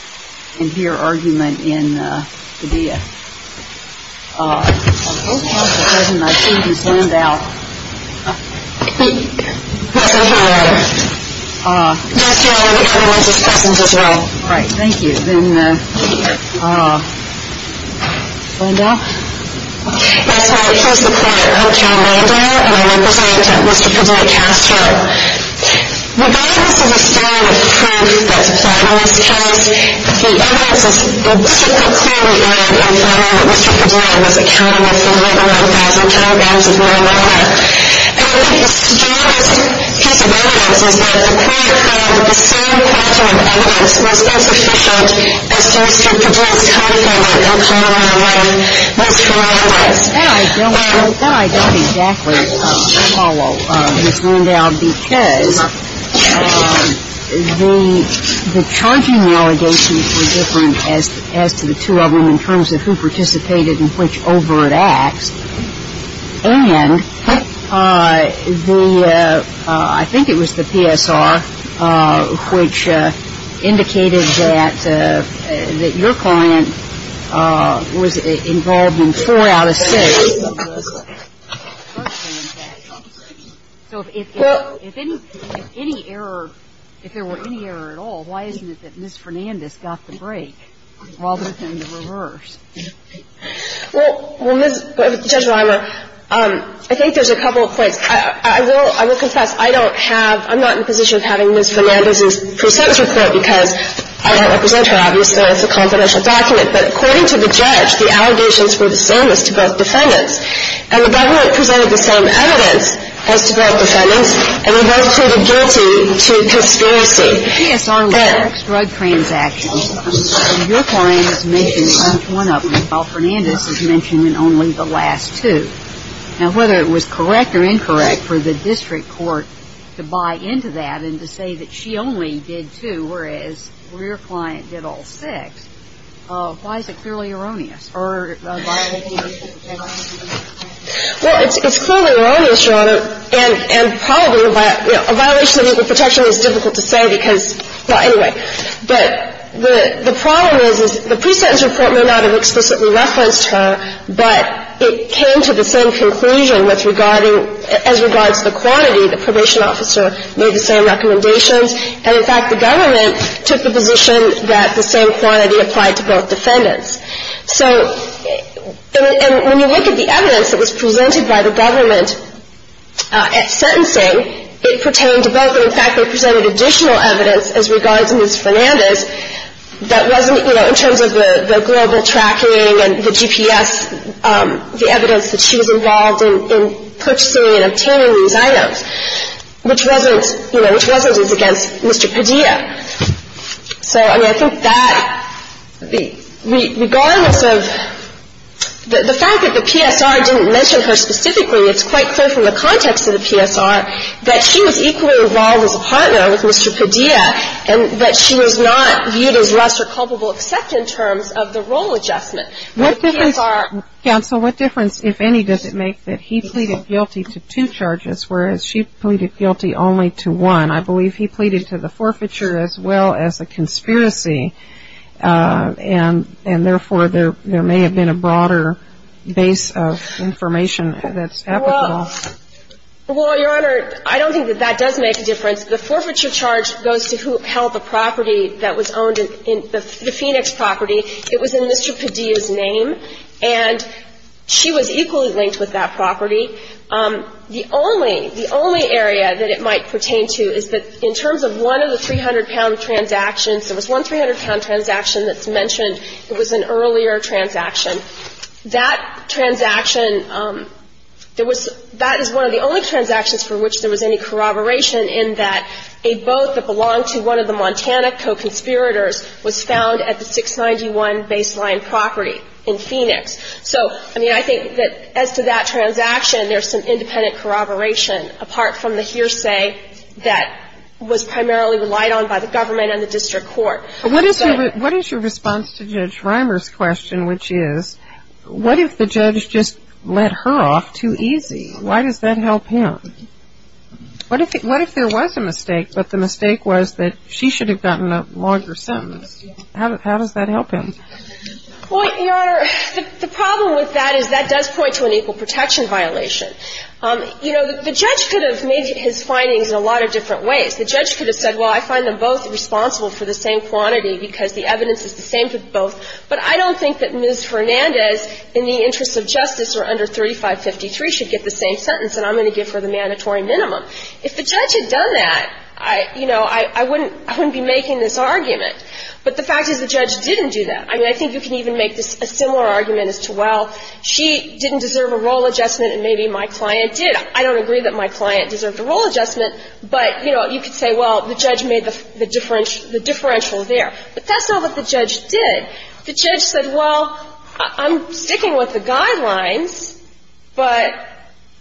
I represent Mr. Padilla-Castro The basis of the story is that Padilla-Castro The evidence is that Mr. Padilla-Castro was accountable for 11,000 kilograms of marijuana And the strongest piece of evidence is that the crime of the same factor of evidence was insufficient as to Mr. Padilla-Castro's claim that marijuana was criminalized That I don't exactly follow, Ms. Landau, because the charging allegations were different as to the two of them in terms of who participated and which overt acts And I think it was the PSR which indicated that your client was involved in four out of six of those charges So if there were any error at all, why isn't it that Ms. Fernandez got the break rather than the reverse? Well, Judge Reimer, I think there's a couple of points. I will confess I don't have I'm not in a position of having Ms. Fernandez's precepts report because I don't represent her, obviously, as a confidential document But according to the judge, the allegations were the same as to both defendants And the government presented the same evidence as to both defendants And they both pleaded guilty to conspiracy In the PSR reverse drug transactions, your client is mentioned in each one of them While Fernandez is mentioned in only the last two Now, whether it was correct or incorrect for the district court to buy into that and to say that she only did two Whereas your client did all six, why is it clearly erroneous? Well, it's clearly erroneous, Your Honor, and probably a violation of legal protection is difficult to say because Well, anyway, but the problem is the precepts report may not have explicitly referenced her But it came to the same conclusion as regards the quantity The probation officer made the same recommendations And, in fact, the government took the position that the same quantity applied to both defendants So, and when you look at the evidence that was presented by the government at sentencing It pertained to both, and, in fact, they presented additional evidence as regards Ms. Fernandez That wasn't, you know, in terms of the global tracking and the GPS The evidence that she was involved in purchasing and obtaining these items Which wasn't, you know, which wasn't as against Mr. Padilla So, I mean, I think that regardless of the fact that the PSR didn't mention her specifically It's quite clear from the context of the PSR that she was equally involved as a partner with Mr. Padilla And that she was not viewed as lesser culpable except in terms of the role adjustment What difference, counsel, what difference, if any, does it make that he pleaded guilty to two charges Whereas she pleaded guilty only to one I believe he pleaded to the forfeiture as well as a conspiracy And, therefore, there may have been a broader base of information that's applicable Well, your honor, I don't think that that does make a difference The forfeiture charge goes to who held the property that was owned, the Phoenix property It was in Mr. Padilla's name, and she was equally linked with that property The only, the only area that it might pertain to is that in terms of one of the 300-pound transactions There was one 300-pound transaction that's mentioned, it was an earlier transaction That transaction, there was, that is one of the only transactions for which there was any corroboration In that a boat that belonged to one of the Montana co-conspirators was found at the 691 baseline property in Phoenix So, I mean, I think that as to that transaction, there's some independent corroboration Apart from the hearsay that was primarily relied on by the government and the district court What is your response to Judge Reimer's question, which is What if the judge just let her off too easy? Why does that help him? What if there was a mistake, but the mistake was that she should have gotten a longer sentence? How does that help him? Well, Your Honor, the problem with that is that does point to an equal protection violation You know, the judge could have made his findings in a lot of different ways The judge could have said, well, I find them both responsible for the same quantity Because the evidence is the same for both But I don't think that Ms. Hernandez, in the interest of justice, or under 3553 Should get the same sentence, and I'm going to give her the mandatory minimum If the judge had done that, you know, I wouldn't be making this argument But the fact is the judge didn't do that I mean, I think you can even make a similar argument as to, well, she didn't deserve a role adjustment And maybe my client did I don't agree that my client deserved a role adjustment But, you know, you could say, well, the judge made the differential there But that's not what the judge did The judge said, well, I'm sticking with the guidelines But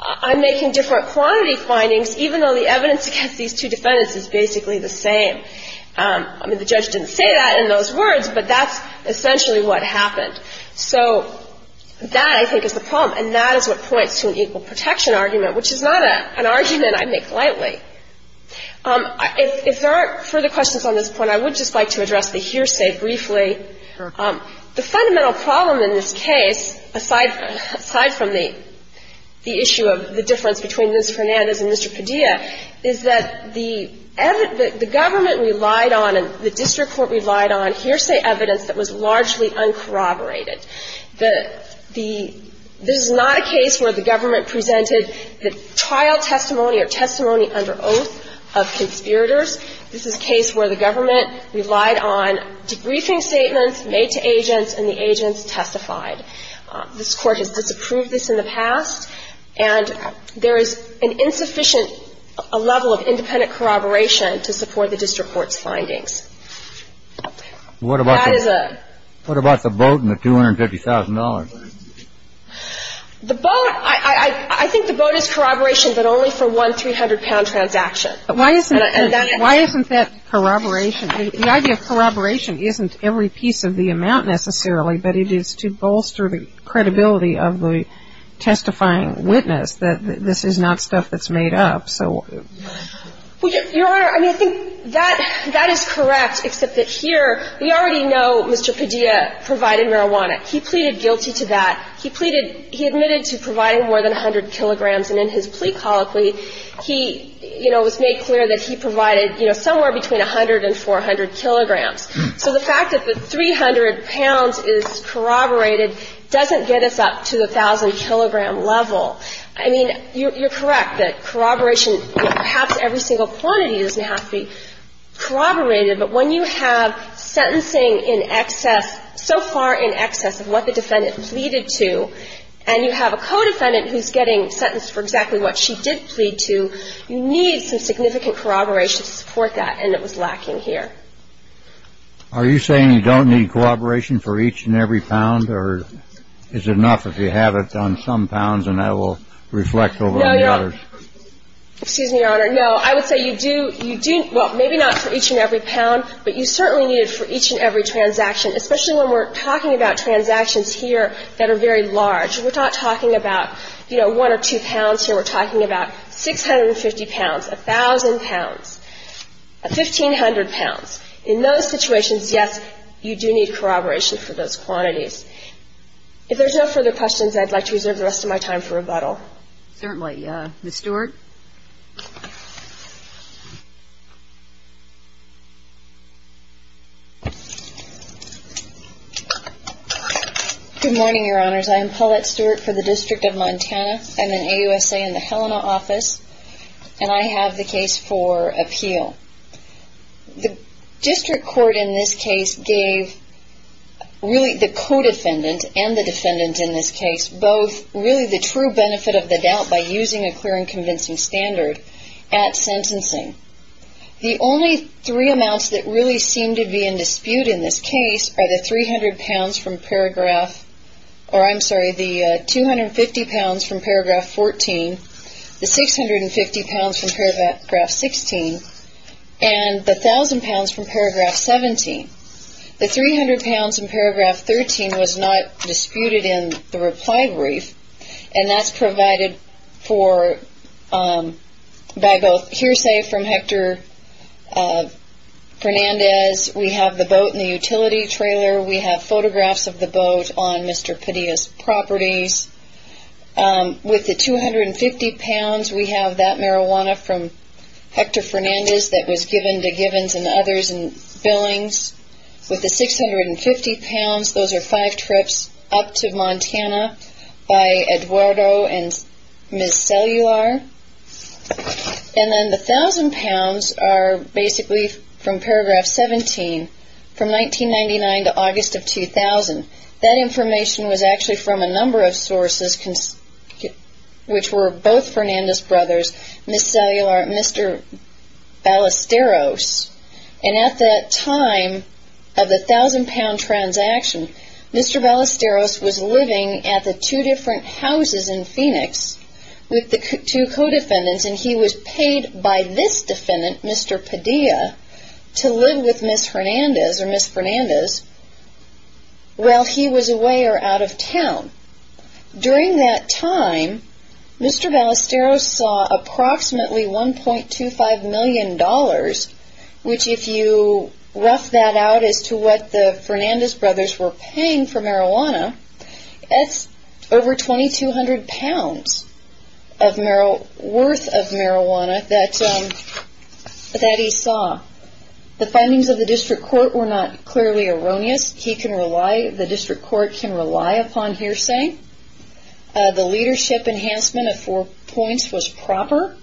I'm making different quantity findings Even though the evidence against these two defendants is basically the same I mean, the judge didn't say that in those words But that's essentially what happened So that, I think, is the problem And that is what points to an equal protection argument Which is not an argument I make lightly If there aren't further questions on this point I would just like to address the hearsay briefly The fundamental problem in this case, aside from the issue of the difference Between Ms. Hernandez and Mr. Padilla Is that the government relied on, and the district court relied on Hearsay evidence that was largely uncorroborated This is not a case where the government presented the trial testimony Or testimony under oath of conspirators This is a case where the government relied on debriefing statements Made to agents, and the agents testified This court has disapproved this in the past And there is an insufficient level of independent corroboration To support the district court's findings What about the vote and the $250,000? The vote, I think the vote is corroboration But only for one 300-pound transaction Why isn't that corroboration? The idea of corroboration isn't every piece of the amount necessarily But it is to bolster the credibility of the testifying witness That this is not stuff that's made up Your Honor, I think that is correct Except that here we already know Mr. Padilla provided marijuana He pleaded guilty to that He admitted to providing more than 100 kilograms And in his plea colloquy It was made clear that he provided somewhere between 100 and 400 kilograms So the fact that the 300 pounds is corroborated Doesn't get us up to the 1,000-kilogram level I mean, you're correct that corroboration Perhaps every single quantity doesn't have to be corroborated But when you have sentencing in excess So far in excess of what the defendant pleaded to And you have a co-defendant who's getting sentenced For exactly what she did plead to You need some significant corroboration to support that And it was lacking here Are you saying you don't need corroboration for each and every pound? Or is it enough if you have it on some pounds And I will reflect over the others? No, Your Honor Excuse me, Your Honor No, I would say you do Well, maybe not for each and every pound But you certainly need it for each and every transaction Especially when we're talking about transactions here that are very large We're not talking about, you know, one or two pounds here We're talking about 650 pounds 1,000 pounds 1,500 pounds In those situations, yes, you do need corroboration for those quantities If there's no further questions I'd like to reserve the rest of my time for rebuttal Certainly Ms. Stewart Good morning, Your Honors I am Paulette Stewart for the District of Montana I'm in AUSA in the Helena office And I have the case for appeal The district court in this case gave Really the co-defendant and the defendant in this case Both really the true benefit of the doubt By using a clear and convincing standard at sentencing The only three amounts that really seem to be in dispute in this case Are the 300 pounds from paragraph Or I'm sorry, the 250 pounds from paragraph 14 The 650 pounds from paragraph 16 And the 1,000 pounds from paragraph 17 The 300 pounds in paragraph 13 was not disputed in the reply brief And that's provided for by both hearsay from Hector Fernandez We have the boat in the utility trailer We have photographs of the boat on Mr. Padilla's properties With the 250 pounds, we have that marijuana from Hector Fernandez That was given to Givens and others in billings With the 650 pounds, those are five trips up to Montana By Eduardo and Ms. Cellular And then the 1,000 pounds are basically from paragraph 17 From 1999 to August of 2000 That information was actually from a number of sources Which were both Fernandez brothers Ms. Cellular, Mr. Ballesteros And at that time of the 1,000 pound transaction Mr. Ballesteros was living at the two different houses in Phoenix With the two co-defendants And he was paid by this defendant, Mr. Padilla To live with Ms. Fernandez While he was away or out of town During that time, Mr. Ballesteros saw approximately 1.25 million dollars Which if you rough that out as to what the Fernandez brothers were paying for marijuana That's over 2,200 pounds worth of marijuana that he saw The findings of the district court were not clearly erroneous The district court can rely upon hearsay The leadership enhancement of four points was proper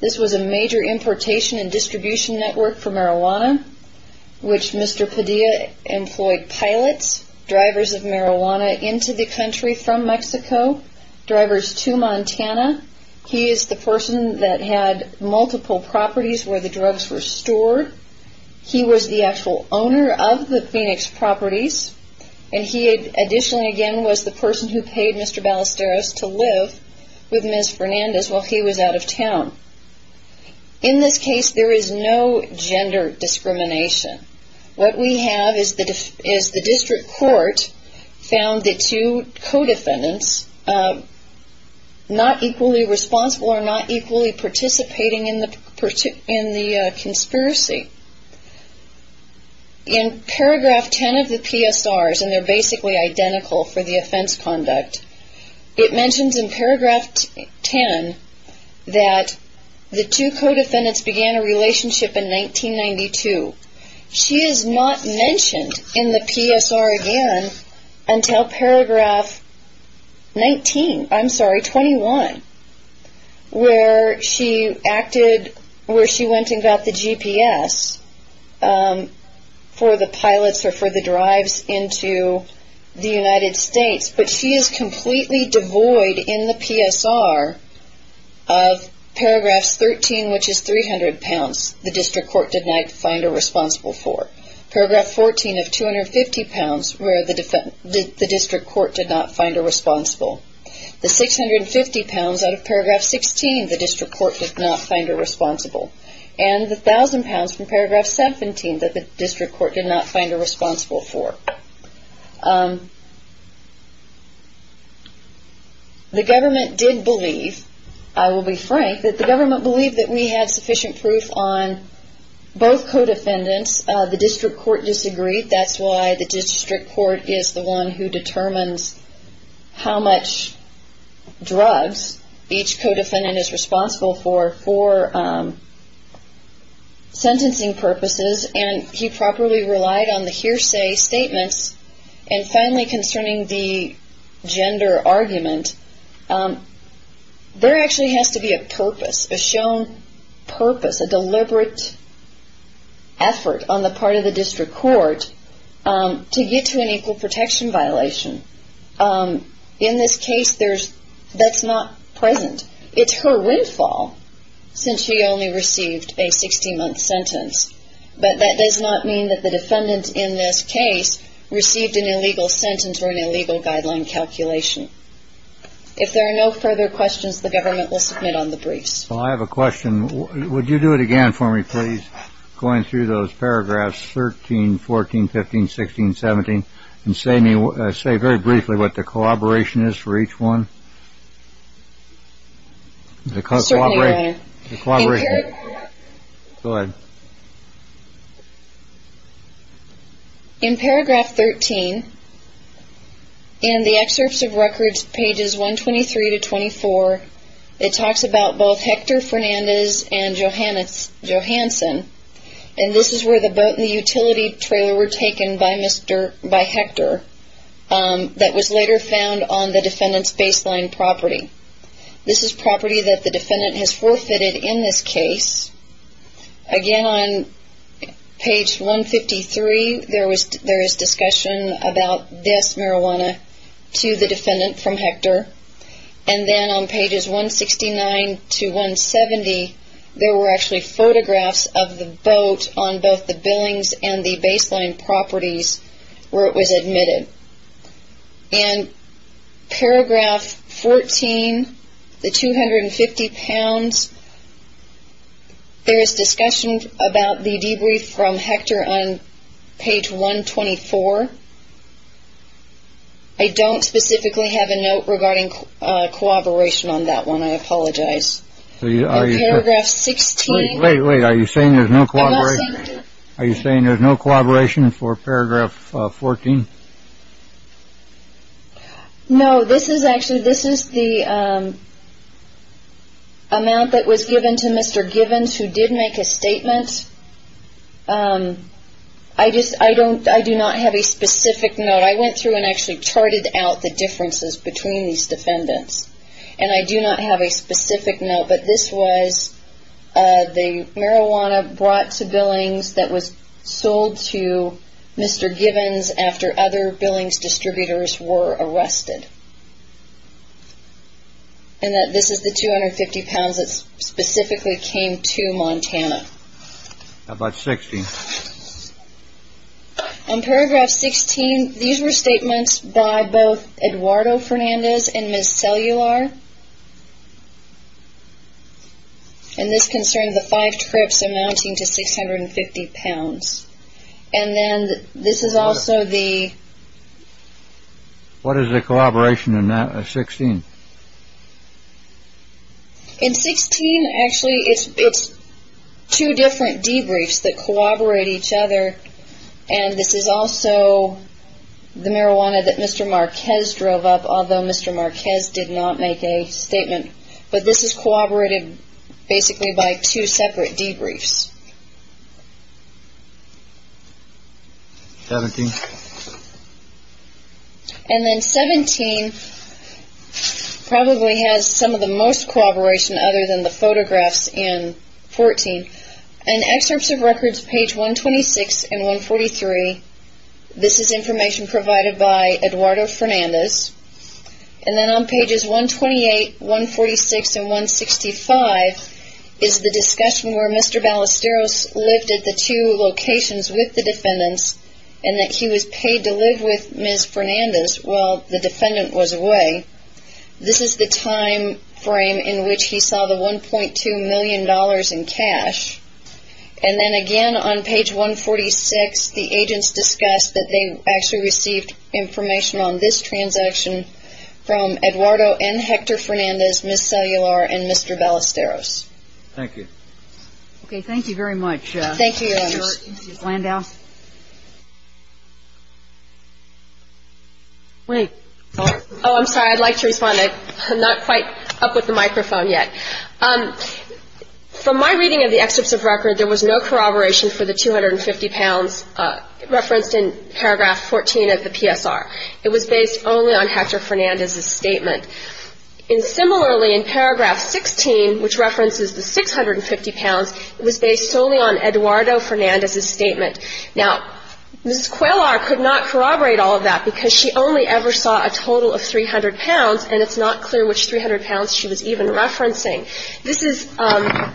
This was a major importation and distribution network for marijuana Which Mr. Padilla employed pilots Drivers of marijuana into the country from Mexico Drivers to Montana He is the person that had multiple properties where the drugs were stored He was the actual owner of the Phoenix properties And he additionally again was the person who paid Mr. Ballesteros To live with Ms. Fernandez while he was out of town In this case there is no gender discrimination What we have is the district court found the two co-defendants Not equally responsible or not equally participating in the conspiracy In paragraph 10 of the PSRs And they are basically identical for the offense conduct It mentions in paragraph 10 that the two co-defendants began a relationship in 1992 She is not mentioned in the PSR again until paragraph 19, I'm sorry, 21 Where she acted, where she went and got the GPS For the pilots or for the drives into the United States But she is completely devoid in the PSR of paragraph 13 which is 300 pounds The district court did not find her responsible for Paragraph 14 of 250 pounds where the district court did not find her responsible The 650 pounds out of paragraph 16 the district court did not find her responsible And the 1000 pounds from paragraph 17 that the district court did not find her responsible for The government believed that we had sufficient proof on both co-defendants The district court disagreed, that's why the district court is the one who determines How much drugs each co-defendant is responsible for For sentencing purposes and he properly relied on the hearsay statements And finally concerning the gender argument There actually has to be a purpose, a shown purpose, a deliberate effort on the part of the district court To get to an equal protection violation In this case that's not present, it's her windfall Since she only received a 60 month sentence But that does not mean that the defendant in this case received an illegal sentence or an illegal guideline calculation If there are no further questions the government will submit on the briefs Well I have a question, would you do it again for me please Going through those paragraphs 13, 14, 15, 16, 17 And say very briefly what the collaboration is for each one Certainly your honor Go ahead In paragraph 13 In the excerpts of records pages 123 to 24 It talks about both Hector Fernandez and Johansen And this is where the boat and the utility trailer were taken by Hector That was later found on the defendant's baseline property This is property that the defendant has forfeited in this case Again on page 153 There is discussion about this marijuana to the defendant from Hector And then on pages 169 to 170 There were actually photographs of the boat on both the billings and the baseline properties Where it was admitted And paragraph 14 The 250 pounds There is discussion about the debrief from Hector on page 124 I don't specifically have a note regarding cooperation on that one I apologize Paragraph 16 Wait wait are you saying there is no cooperation Are you saying there is no cooperation for paragraph 14 No this is actually this is the Amount that was given to Mr. Givens who did make a statement I just I don't I do not have a specific note I went through and actually charted out the differences between these defendants And I do not have a specific note but this was The marijuana brought to billings that was sold to Mr. Givens after other billings distributors were arrested And that this is the 250 pounds that specifically came to Montana How about 16 On paragraph 16 these were statements by both Eduardo Fernandez and Ms. Cellular And this concerned the five trips amounting to 650 pounds And then this is also the What is the collaboration in that 16 In 16 actually it's two different debriefs that collaborate each other And this is also the marijuana that Mr. Marquez drove up Although Mr. Marquez did not make a statement But this is cooperated basically by two separate debriefs And then 17 probably has some of the most cooperation Other than the photographs in 14 And excerpts of records page 126 and 143 This is information provided by Eduardo Fernandez And then on pages 128, 146 and 165 Is the discussion where Mr. Ballesteros lived at the two locations with the defendants And that he was paid to live with Ms. Fernandez while the defendant was away This is the time frame in which he saw the 1.2 million dollars in cash And then again on page 146 the agents discussed that they actually received Information on this transaction from Eduardo and Hector Fernandez Ms. Cellular and Mr. Ballesteros Thank you Okay, thank you very much Thank you Landau Wait Oh I'm sorry I'd like to respond I'm not quite up with the microphone yet From my reading of the excerpts of record There was no corroboration for the 250 pounds Referenced in paragraph 14 of the PSR It was based only on Hector Fernandez's statement And similarly in paragraph 16 which references the 650 pounds It was based solely on Eduardo Fernandez's statement Now, Ms. Quellar could not corroborate all of that Because she only ever saw a total of 300 pounds And it's not clear which 300 pounds she was even referencing This is the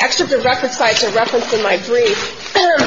excerpt of record site to reference in my brief But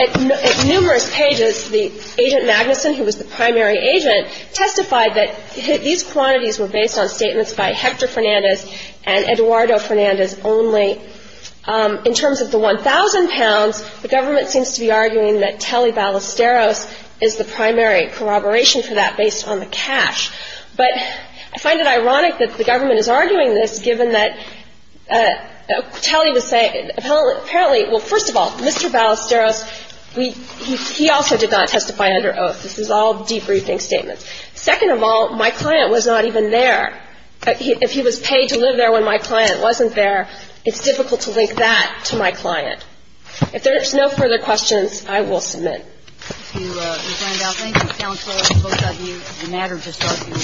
at numerous pages the agent Magnuson Who was the primary agent Testified that these quantities were based on statements by Hector Fernandez And Eduardo Fernandez only In terms of the 1,000 pounds The government seems to be arguing that Telly Ballesteros Is the primary corroboration for that based on the cash But I find it ironic that the government is arguing this Given that Telly would say Well, first of all, Mr. Ballesteros He also did not testify under oath This is all debriefing statements Second of all, my client was not even there If he was paid to live there when my client wasn't there It's difficult to link that to my client If there's no further questions, I will submit Thank you, Ms. Randolph Thank you, counsel Both of you It's a matter to start with